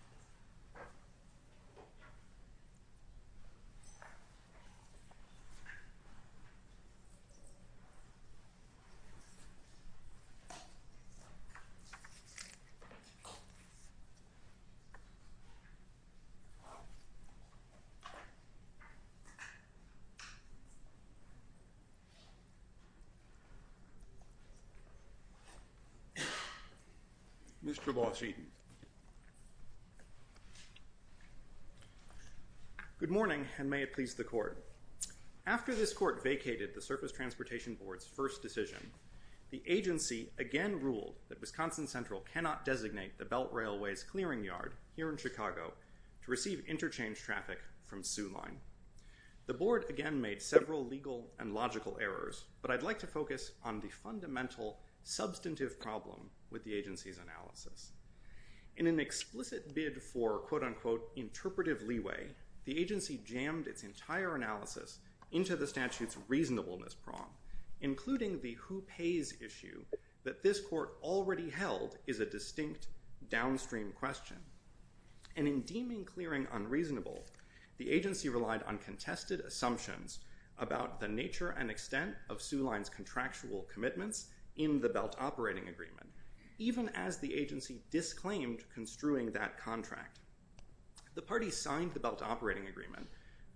v. STB Good morning, and may it please the Court. After this Court vacated the Surface Transportation Board's first decision, the agency again ruled that Wisconsin Central cannot designate the Belt Railway's clearing yard here in Chicago to receive interchange traffic from Soo Line. The Board again made several legal and logical errors, but I'd like to focus on the fundamental substantive problem with the agency's analysis. In an explicit bid for quote-unquote interpretive leeway, the agency jammed its entire analysis into the statute's reasonableness prong, including the who-pays issue that this Court already held is a distinct downstream question. And in deeming clearing unreasonable, the agency relied on contested assumptions about the nature and extent of Soo Line's contractual commitments in the Belt Operating Agreement, even as the agency disclaimed construing that contract. The party signed the Belt Operating Agreement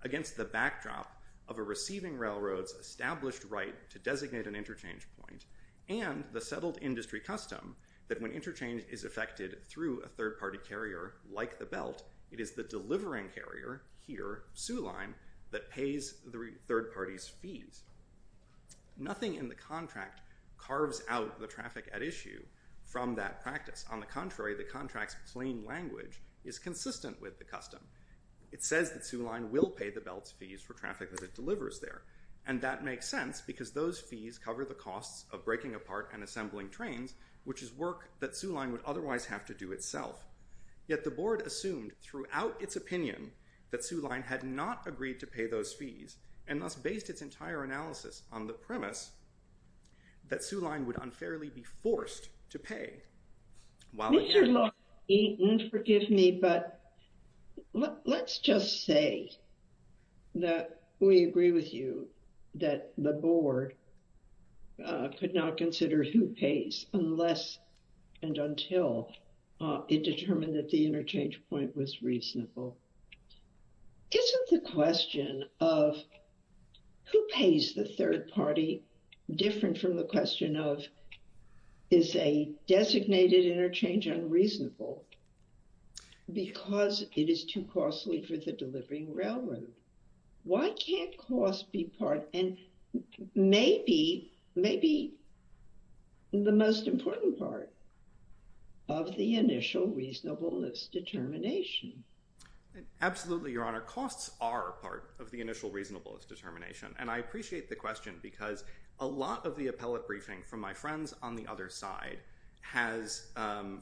against the backdrop of a receiving railroad's established right to designate an interchange point and the settled industry custom that when interchange is effected through a third-party carrier like the Belt, it is the delivering carrier here, Soo Line, that pays the third party's fees. Nothing in the contract carves out the traffic at issue from that practice. On the contrary, the contract's plain language is consistent with the custom. It says that Soo Line will pay the Belt's fees for traffic that it delivers there, and that makes sense because those fees cover the costs of breaking apart and assembling trains, which is work that Soo Line would otherwise have to do itself. Yet the Board assumed throughout its opinion that Soo Line had not agreed to pay those fees, and thus based its entire analysis on the premise that Soo Line would unfairly be forced to pay while it did. Mr. Lockheed, forgive me, but let's just say that we agree with you that the Board could not consider who pays unless and until it determined that the interchange point was reasonable. Isn't the question of who pays the third party different from the question of is a designated interchange unreasonable because it is too costly for the delivering railroad? Why can't cost be part and maybe, maybe the most important part of the initial reasonableness determination? Absolutely, Your Honor. Costs are part of the initial reasonableness determination, and I appreciate the question because a lot of the appellate briefing from my friends on the other side has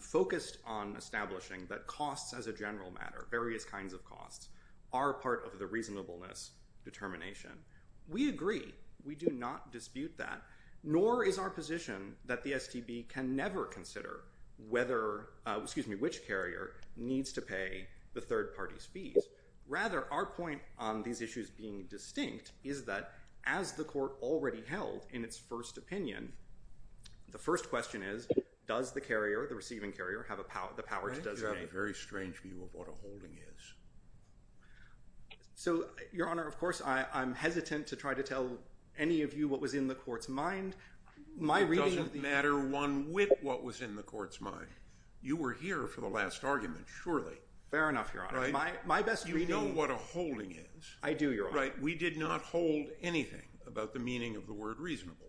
focused on establishing that costs as a general matter, various kinds of costs are part of the reasonableness determination. We agree. We do not dispute that, nor is our position that the STB can never consider whether, excuse me, which carrier needs to pay the third party's fees. Rather, our point on these issues being distinct is that as the Court already held in its first opinion, the first question is, does the carrier, the receiving carrier, have the power to designate? I have a very strange view of what a holding is. So, Your Honor, of course, I'm hesitant to try to tell any of you what was in the Court's mind. My reading of the- It doesn't matter one whit what was in the Court's mind. You were here for the last argument, surely. Fair enough, Your Honor. My best reading- You know what a holding is. I do, Your Honor. Right. We did not hold anything about the meaning of the word reasonable.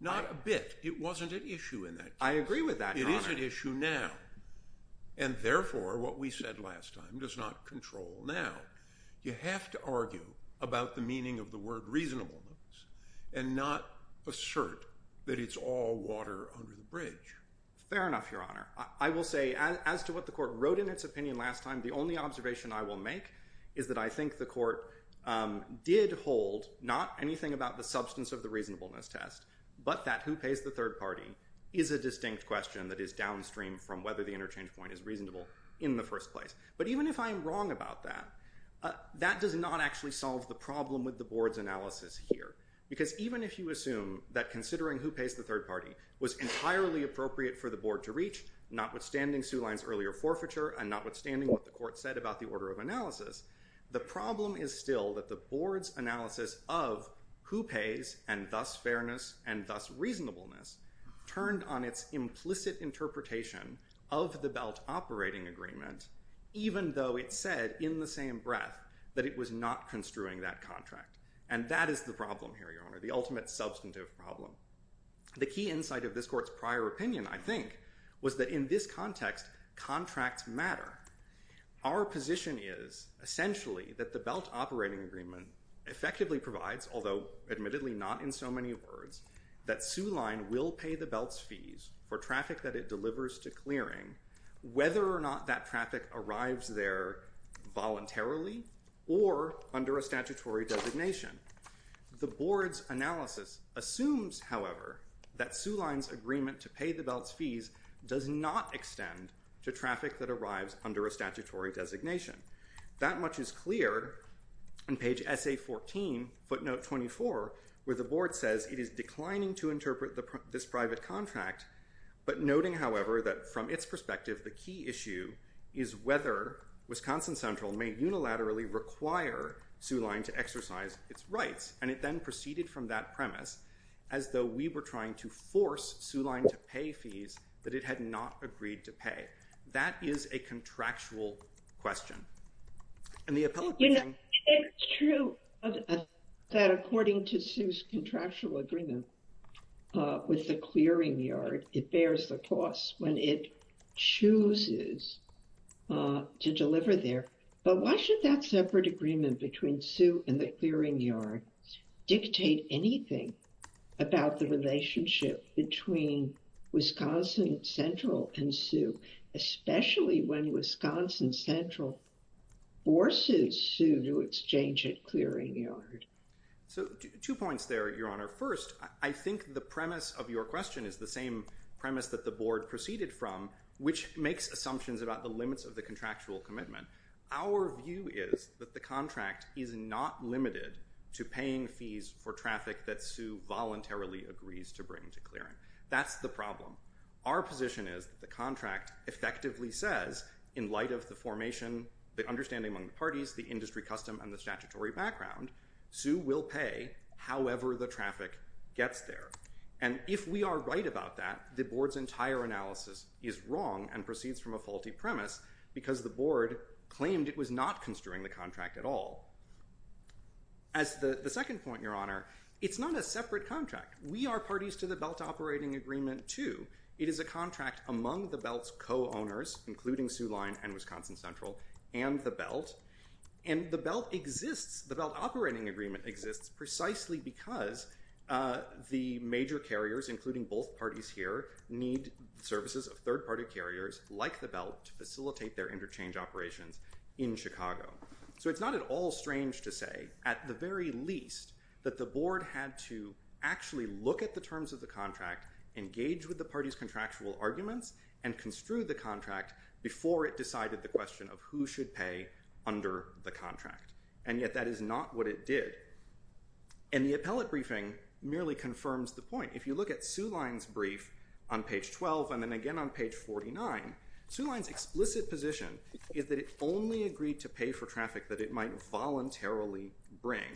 Not a bit. It wasn't an issue in that case. I agree with that, Your Honor. It is an issue now. And therefore, what we said last time does not control now. You have to argue about the meaning of the word reasonableness and not assert that it's all water under the bridge. Fair enough, Your Honor. I will say, as to what the Court wrote in its opinion last time, the only observation I will make is that I think the Court did hold not anything about the substance of the reasonableness test, but that who pays the third party is a distinct question that is downstream from whether the interchange point is reasonable in the first place. But even if I'm wrong about that, that does not actually solve the problem with the Board's analysis here. Because even if you assume that considering who pays the third party was entirely appropriate for the Board to reach, notwithstanding Sue Lyon's earlier forfeiture and notwithstanding what the Court said about the order of analysis, the problem is still that the Board's analysis of who pays and thus fairness and thus reasonableness turned on its implicit interpretation of the belt operating agreement, even though it said in the same breath that it was not construing that contract. And that is the problem here, Your Honor, the ultimate substantive problem. The key insight of this Court's prior opinion, I think, was that in this context contracts matter. Our position is essentially that the belt operating agreement effectively provides, although admittedly not in so many words, that Sue Lyon will pay the belt's fees for traffic that it delivers to clearing, whether or not that traffic arrives there voluntarily or under a statutory designation. The Board's analysis assumes, however, that Sue Lyon's agreement to pay the belt's fees does not extend to traffic that arrives under a statutory designation. That much is clear in page S.A. 14, footnote 24, where the Board says it is declining to interpret this private contract, but noting, however, that from its perspective, the key issue is whether Wisconsin Central may unilaterally require Sue Lyon to exercise its rights. And it then proceeded from that premise as though we were trying to force Sue Lyon to pay fees that it had not agreed to pay. That is a contractual question. And the appellate. It's true that according to Sue's contractual agreement with the clearing yard, it bears the cost when it chooses to deliver there. But why should that separate agreement between Sue and the clearing yard dictate anything about the relationship between Wisconsin Central and Sue, especially when Wisconsin Central forces Sue to exchange at clearing yard? So two points there, Your Honor. First, I think the premise of your question is the same premise that the Board proceeded from, which makes assumptions about the limits of the contractual commitment. Our view is that the contract is not limited to paying fees for traffic that Sue voluntarily agrees to bring to clearing. That's the problem. Our position is that the contract effectively says, in light of the formation, the understanding among the parties, the industry custom and the statutory background, Sue will pay however the traffic gets there. And if we are right about that, the Board's entire analysis is wrong and proceeds from a premise because the Board claimed it was not construing the contract at all. As the second point, Your Honor, it's not a separate contract. We are parties to the belt operating agreement, too. It is a contract among the belt's co-owners, including Sue Lyon and Wisconsin Central and the belt. And the belt exists. The belt operating agreement exists precisely because the major carriers, including both parties here, need services of third party carriers like the belt to facilitate their interchange operations in Chicago. So it's not at all strange to say, at the very least, that the Board had to actually look at the terms of the contract, engage with the party's contractual arguments and construe the contract before it decided the question of who should pay under the contract. And yet that is not what it did. And the appellate briefing merely confirms the point. If you look at Sue Lyon's brief on page 12 and then again on page 49, Sue Lyon's explicit position is that it only agreed to pay for traffic that it might voluntarily bring.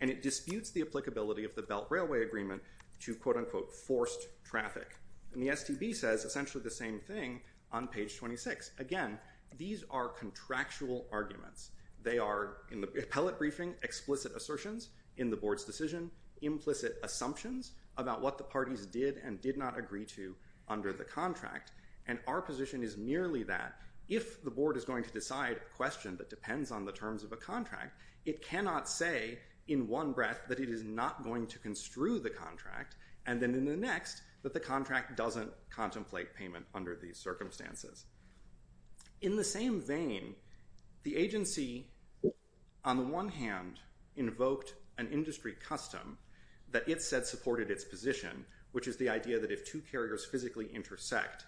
And it disputes the applicability of the belt railway agreement to, quote unquote, forced traffic. And the STB says essentially the same thing on page 26. Again, these are contractual arguments. They are, in the appellate briefing, explicit assertions in the Board's decision, implicit assumptions about what the parties did and did not agree to under the contract. And our position is merely that if the Board is going to decide a question that depends on the terms of a contract, it cannot say in one breath that it is not going to construe the contract and then in the next that the contract doesn't contemplate payment under these circumstances. In the same vein, the agency, on the one hand, invoked an industry custom that it said supported its position, which is the idea that if two carriers physically intersect,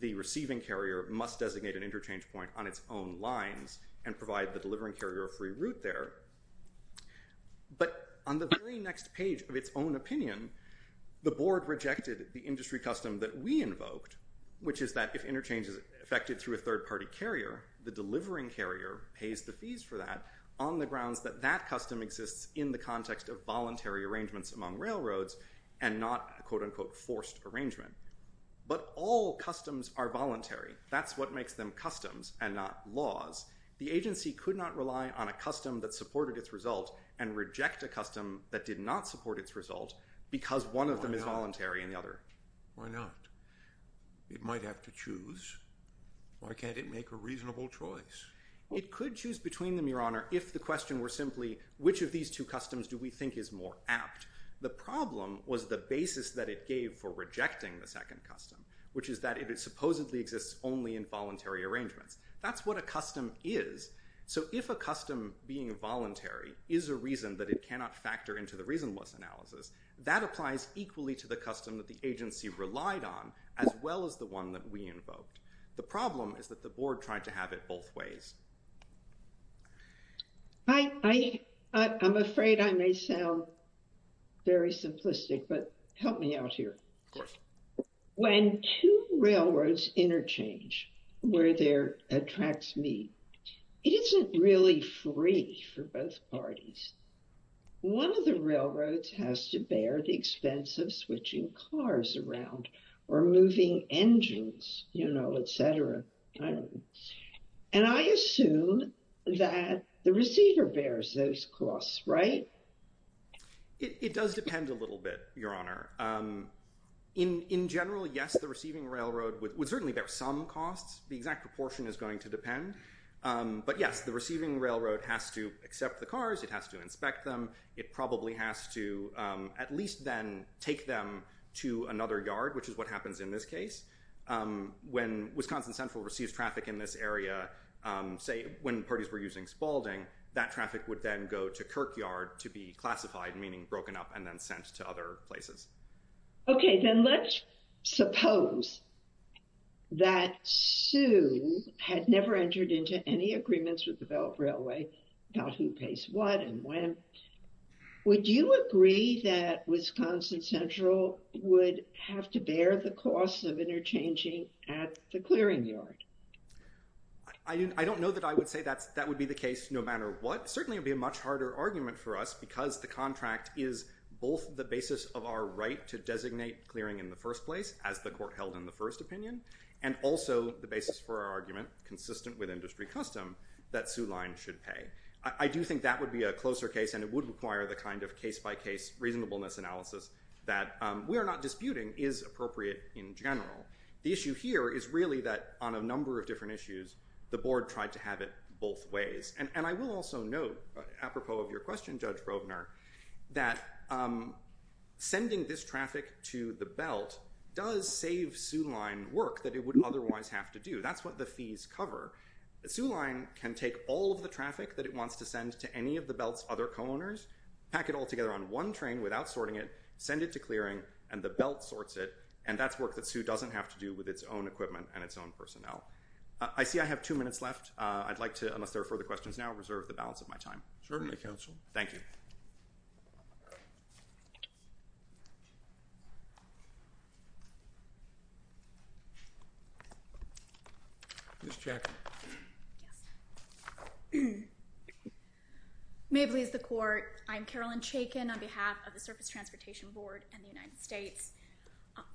the receiving carrier must designate an interchange point on its own lines and provide the delivering carrier a free route there. But on the very next page of its own opinion, the Board rejected the industry custom that we invoked, which is that if interchange is affected through a third party carrier, the delivering carrier pays the fees for that on the grounds that that custom exists in the context of voluntary arrangements among railroads and not, quote unquote, forced arrangement. But all customs are voluntary. That's what makes them customs and not laws. The agency could not rely on a custom that supported its result and reject a custom that did not support its result because one of them is voluntary and the other. Why not? It might have to choose. Why can't it make a reasonable choice? It could choose between them, Your Honor, if the question were simply, which of these two customs do we think is more apt? The problem was the basis that it gave for rejecting the second custom, which is that it supposedly exists only in voluntary arrangements. That's what a custom is. So if a custom being voluntary is a reason that it cannot factor into the reasonableness analysis, that applies equally to the custom that the agency relied on as well as the one that we invoked. The problem is that the board tried to have it both ways. I, I, I'm afraid I may sound very simplistic, but help me out here. When two railroads interchange where there attracts me, it isn't really free for both parties. One of the railroads has to bear the expense of switching cars around or moving engines, you know, et cetera. And I assume that the receiver bears those costs, right? It does depend a little bit, Your Honor. In general, yes, the receiving railroad would certainly bear some costs. The exact proportion is going to depend. But yes, the receiving railroad has to accept the cars. It has to inspect them. It probably has to at least then take them to another yard, which is what happens in this case. When Wisconsin Central receives traffic in this area, say when parties were using Spaulding, that traffic would then go to Kirkyard to be classified, meaning broken up and then sent to other places. OK, then let's suppose that Sue had never entered into any agreements with the Belk Railway about who pays what and when. Would you agree that Wisconsin Central would have to bear the costs of interchanging at the clearing yard? I don't know that I would say that that would be the case no matter what. Certainly it would be a much harder argument for us because the contract is both the basis of our right to designate clearing in the first place, as the court held in the first opinion, and also the basis for our argument, consistent with industry custom, that Sue Lyon should pay. I do think that would be a closer case. And it would require the kind of case by case reasonableness analysis that we are not disputing is appropriate in general. The issue here is really that on a number of different issues, the board tried to have it both ways. And I will also note, apropos of your question, Judge Brogner, that sending this traffic to the Belt does save Sue Lyon work that it would otherwise have to do. That's what the fees cover. Sue Lyon can take all of the traffic that it wants to send to any of the Belt's other co-owners, pack it all together on one train without sorting it, send it to clearing, and the Belt sorts it, and that's work that Sue doesn't have to do with its own equipment and its own personnel. I see I have two minutes left. I'd like to, unless there are further questions now, reserve the balance of my time. Certainly, counsel. Thank you. Ms. Chaikin. May it please the Court. I'm Carolyn Chaikin on behalf of the Surface Transportation Board and the United States.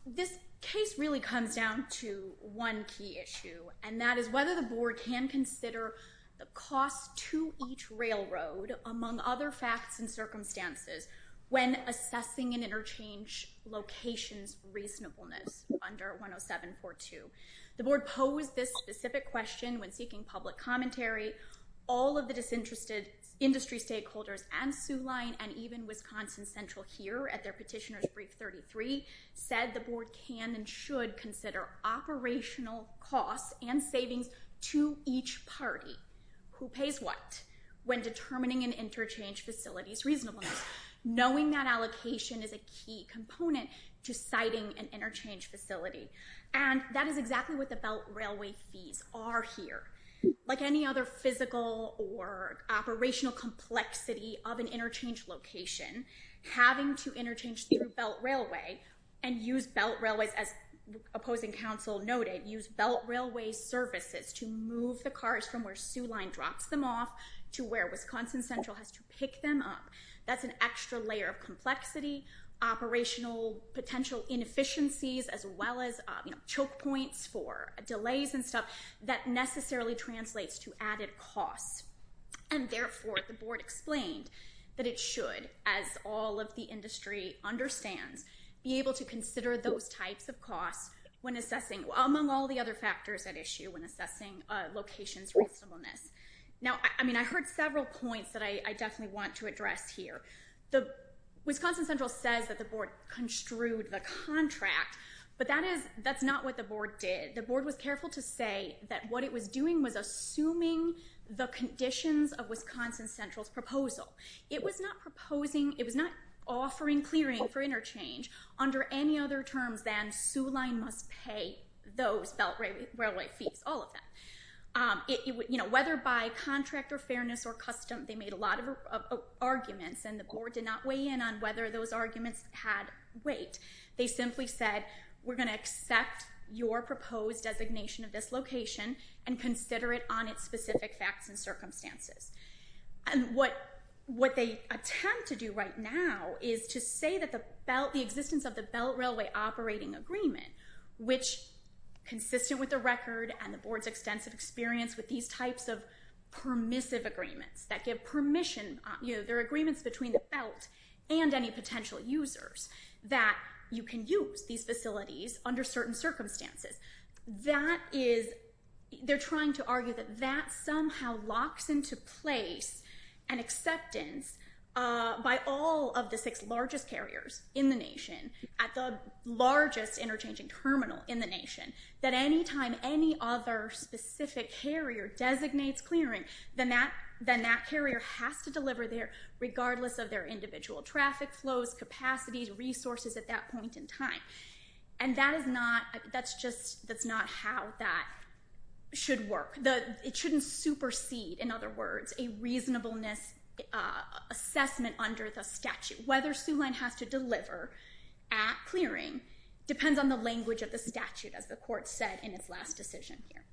This case really comes down to one key issue, and that is whether the board can consider the cost to each railroad, among other facts and circumstances, when assessing an interchange location's reasonableness under 10742. The board posed this specific question when seeking public commentary. All of the disinterested industry stakeholders at Sue Lyon and even Wisconsin Central here at their petitioner's brief 33 said the board can and should consider operational costs and savings to each party. Who pays what when determining an interchange facility's reasonableness, knowing that allocation is a key component to siting an interchange facility. And that is exactly what the Belt Railway fees are here. Like any other physical or operational complexity of an interchange location, having to interchange through Belt Railway and use Belt Railways, as opposing counsel noted, use Belt Railway services to move the cars from where Sue Lyon drops them off to where Wisconsin Central has to pick them up. That's an extra layer of complexity, operational potential inefficiencies, as well as choke points for delays and stuff that necessarily translates to added costs. And therefore, the board explained that it should, as all of the industry understands, be prepared to consider those types of costs when assessing, among all the other factors at issue when assessing locations reasonableness. Now, I mean, I heard several points that I definitely want to address here. The Wisconsin Central says that the board construed the contract, but that's not what the board did. The board was careful to say that what it was doing was assuming the conditions of Wisconsin Central's proposal. It was not proposing, it was not offering clearing for interchange under any other terms than Sue Lyon must pay those Belt Railway fees, all of that. Whether by contract or fairness or custom, they made a lot of arguments and the board did not weigh in on whether those arguments had weight. They simply said, we're going to accept your proposed designation of this location and consider it on its specific facts and circumstances. And what they attempt to do right now is to say that the existence of the Belt Railway operating agreement, which consisted with the record and the board's extensive experience with these types of permissive agreements that give permission, you know, there are agreements between the belt and any potential users that you can use these facilities under certain circumstances. That is, they're trying to argue that that somehow locks into place an acceptance by all of the six largest carriers in the nation at the largest interchanging terminal in the nation, that any time any other specific carrier designates clearing, then that carrier has to deliver there regardless of their individual traffic flows, capacities, resources at that point in time. And that is not, that's just, that's not how that should work. It shouldn't supersede, in other words, a reasonableness assessment under the statute. Whether Soo-Lin has to deliver at clearing depends on the language of the statute, as the court said in its last decision here.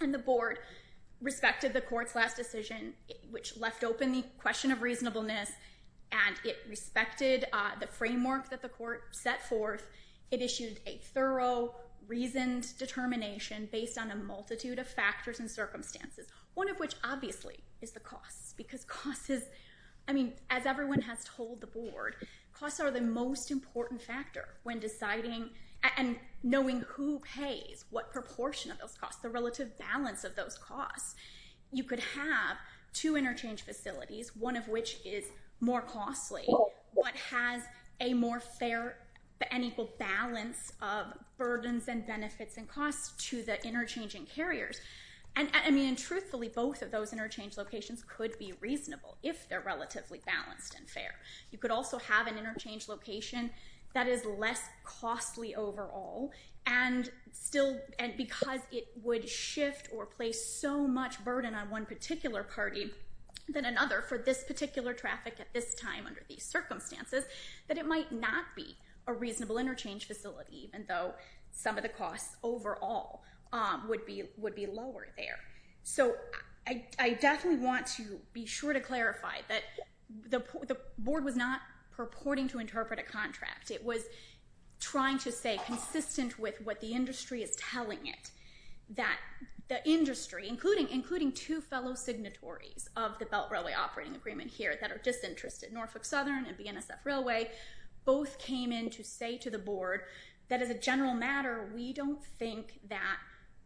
And the board respected the court's last decision, which left open the question of reasonableness, and it respected the framework that the court set forth. It issued a thorough, reasoned determination based on a multitude of factors and circumstances, one of which obviously is the costs, because costs is, I mean, as everyone has told the board, costs are the most important factor when deciding and knowing who pays, what proportion of those costs, the relative balance of those costs. You could have two interchange facilities, one of which is more costly, but has a more fair and equal balance of burdens and benefits and costs to the interchanging carriers. And I mean, truthfully, both of those interchange locations could be reasonable if they're relatively balanced and fair. You could also have an interchange location that is less costly overall and still, and would shift or place so much burden on one particular party than another for this particular traffic at this time under these circumstances, that it might not be a reasonable interchange facility, even though some of the costs overall would be lower there. So I definitely want to be sure to clarify that the board was not purporting to interpret a contract. It was trying to stay consistent with what the industry is telling it, that the industry, including two fellow signatories of the Belt Railway Operating Agreement here that are disinterested, Norfolk Southern and BNSF Railway, both came in to say to the board that as a general matter, we don't think that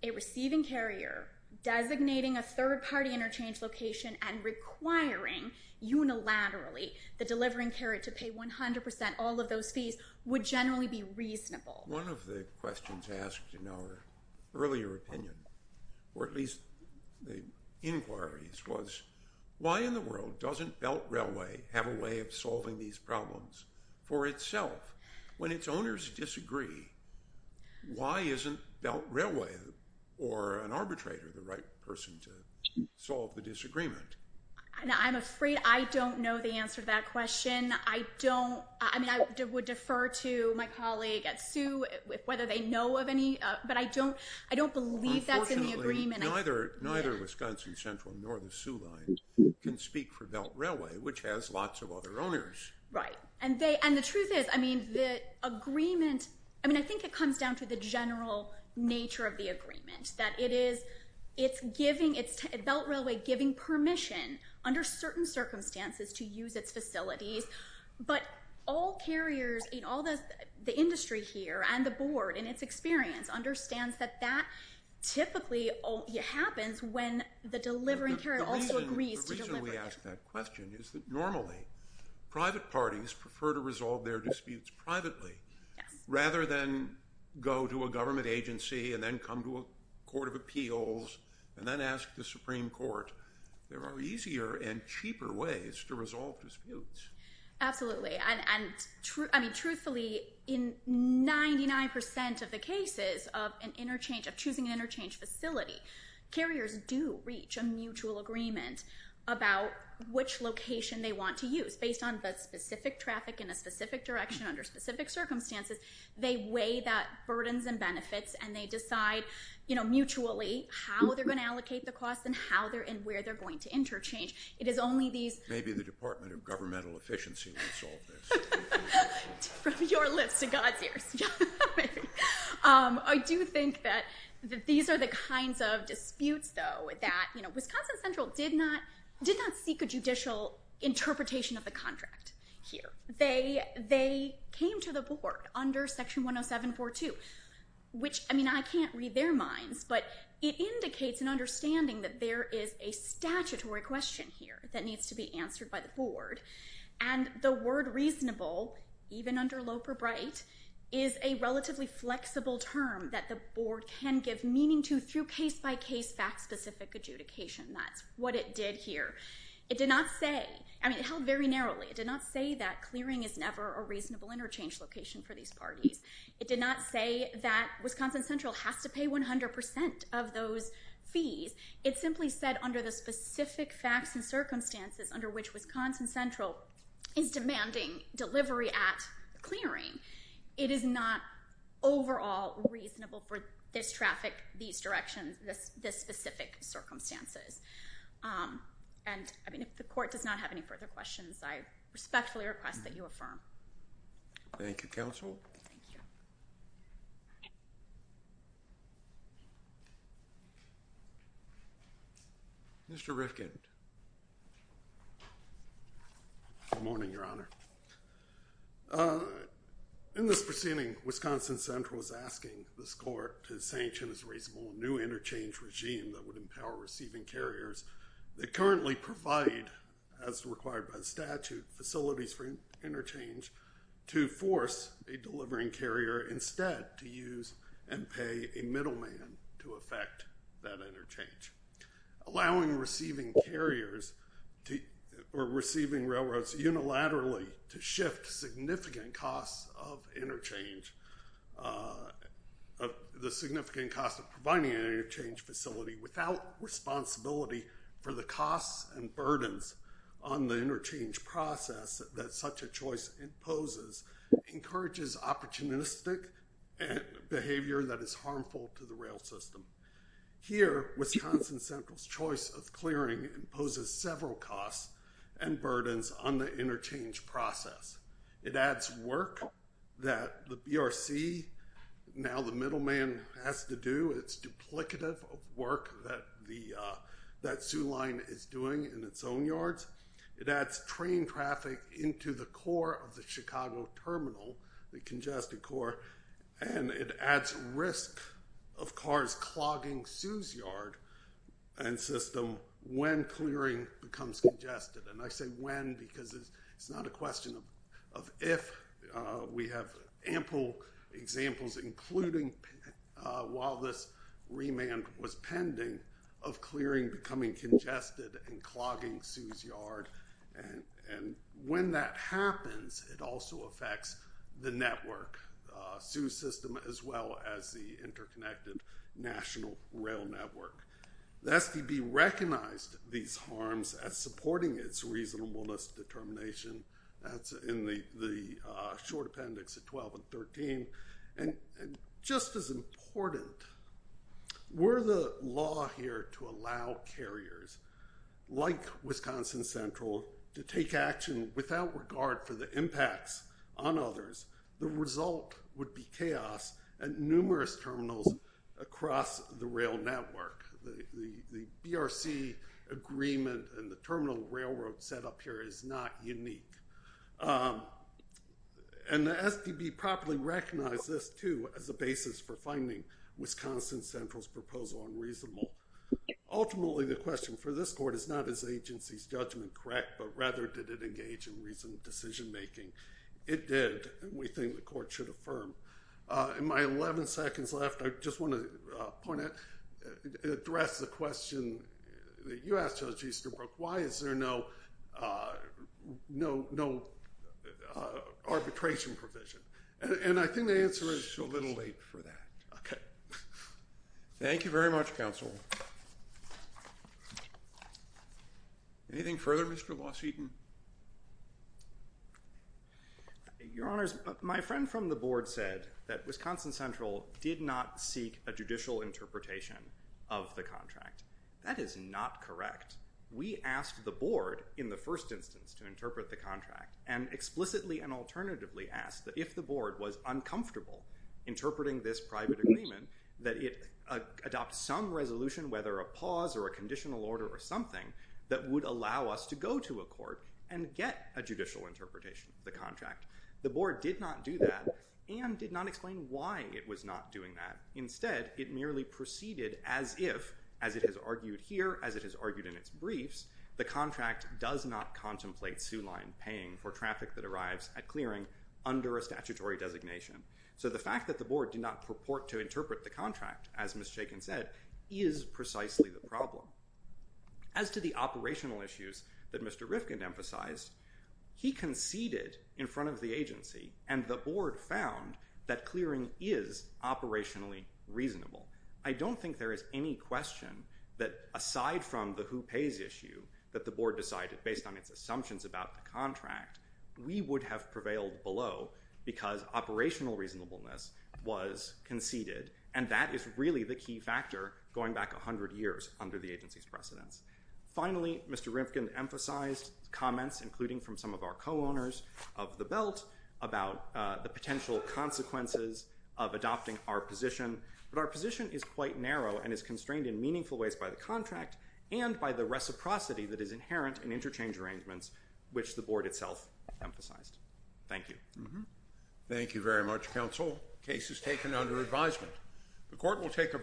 a receiving carrier designating a third party interchange location and requiring unilaterally the delivering carrier to pay 100 percent all of those fees would generally be reasonable. One of the questions asked in our earlier opinion, or at least the inquiries, was why in the world doesn't Belt Railway have a way of solving these problems for itself when its owners disagree? Why isn't Belt Railway or an arbitrator the right person to solve the disagreement? And I'm afraid I don't know the answer to that question. I don't, I mean, I would defer to my colleague at SU whether they know of any, but I don't, I don't believe that's in the agreement. Unfortunately, neither Wisconsin Central nor the SU line can speak for Belt Railway, which has lots of other owners. Right. And the truth is, I mean, the agreement, I mean, I think it comes down to the general nature of the agreement, that it is, it's giving, it's Belt Railway giving permission under certain circumstances to use its facilities. But all carriers in all this, the industry here and the board in its experience understands that that typically happens when the delivering carrier also agrees to The reason we ask that question is that normally private parties prefer to resolve their disputes privately rather than go to a government agency and then come to a court of appeals and then ask the Supreme Court, there are easier and cheaper ways to resolve disputes. Absolutely. And I mean, truthfully, in 99 percent of the cases of an interchange of choosing an interchange facility, carriers do reach a mutual agreement about which location they want to use based on the specific traffic in a specific direction under specific circumstances. They weigh that burdens and benefits and they decide, you know, mutually how they're going to allocate the costs and how they're and where they're going to interchange. It is only these. Maybe the Department of Governmental Efficiency will solve this. From your lips to God's ears. I do think that these are the kinds of disputes, though, that, you know, Wisconsin Central did not did not seek a judicial interpretation of the contract here. They they came to the board under Section 10742, which I mean, I can't read their minds, but it indicates an understanding that there is a statutory question here that needs to be answered by the board. And the word reasonable, even under Loper-Bright, is a relatively flexible term that the board can give meaning to through case by case fact specific adjudication. That's what it did here. It did not say I mean, it held very narrowly. It did not say that clearing is never a reasonable interchange location for these parties. It did not say that Wisconsin Central has to pay 100 percent of those fees. It simply said under the specific facts and circumstances under which Wisconsin Central is demanding delivery at clearing, it is not overall reasonable for this traffic, these directions, this this specific circumstances. And I mean, if the court does not have any further questions, I respectfully request that you affirm. Thank you, counsel. Mr. Rifkind. Good morning, Your Honor. In this proceeding, Wisconsin Central is asking this court to sanction this reasonable new interchange regime that would empower receiving carriers that currently provide, as required by statute, facilities for interchange to force a delivering carrier instead to use and pay a middleman to affect that interchange, allowing receiving carriers or receiving railroads unilaterally to shift significant costs of interchange, the significant cost of providing an interchange facility without responsibility for the costs and burdens on the interchange process that such a choice imposes encourages opportunistic behavior that is harmful to the rail system. Here, Wisconsin Central's choice of clearing imposes several costs and burdens on the work that the BRC, now the middleman, has to do. It's duplicative of work that the, that Soo Line is doing in its own yards. It adds train traffic into the core of the Chicago terminal, the congested core, and it adds risk of cars clogging Soo's yard and system when clearing becomes congested. And I say when because it's not a question of if. We have ample examples, including while this remand was pending, of clearing becoming congested and clogging Soo's yard. And when that happens, it also affects the network, Soo's system, as well as the interconnected national rail network. The STB recognized these harms as supporting its reasonableness determination. That's in the short appendix at 12 and 13. And just as important, were the law here to allow carriers like Wisconsin Central to take action without regard for the impacts on others, the result would be chaos at numerous terminals across the rail network. The BRC agreement and the terminal railroad set up here is not unique. And the STB properly recognized this, too, as a basis for finding Wisconsin Central's proposal unreasonable. Ultimately, the question for this court is not is the agency's judgment correct, but rather did it engage in reasoned decision making? It did, and we think the court should affirm. In my 11 seconds left, I just want to point out and address the question that you asked Judge Easterbrook, why is there no, no, no arbitration provision? And I think the answer is a little late for that. Thank you very much, counsel. Anything further, Mr. Moss-Wheaton? Your Honors, my friend from the board said that Wisconsin Central did not seek a judicial interpretation of the contract. That is not correct. We asked the board in the first instance to interpret the contract and explicitly and alternatively asked that if the board was uncomfortable interpreting this private agreement, that it adopt some resolution, whether a pause or a conditional order or something that would allow us to go to a court and get a judicial interpretation of the contract. The board did not do that and did not explain why it was not doing that. Instead, it merely proceeded as if, as it has argued here, as it has argued in its briefs, the contract does not contemplate sue line paying for traffic that arrives at clearing under a statutory designation. So the fact that the board did not purport to interpret the contract, as Ms. Chaykin said, is precisely the problem. As to the operational issues that Mr. Rifkind emphasized, he conceded in front of the agency and the board found that clearing is operationally reasonable. I don't think there is any question that aside from the who pays issue that the board decided based on its assumptions about the contract, we would have prevailed below because operational reasonableness was conceded. And that is really the key factor going back 100 years under the agency's precedence. Finally, Mr. Rifkind emphasized comments, including from some of our co-owners of the belt, about the potential consequences of adopting our position. But our position is quite narrow and is constrained in meaningful ways by the contract and by the reciprocity that is inherent in interchange arrangements, which the board itself emphasized. Thank you. Thank you very much, counsel. Case is taken under advisement. The court will take a brief.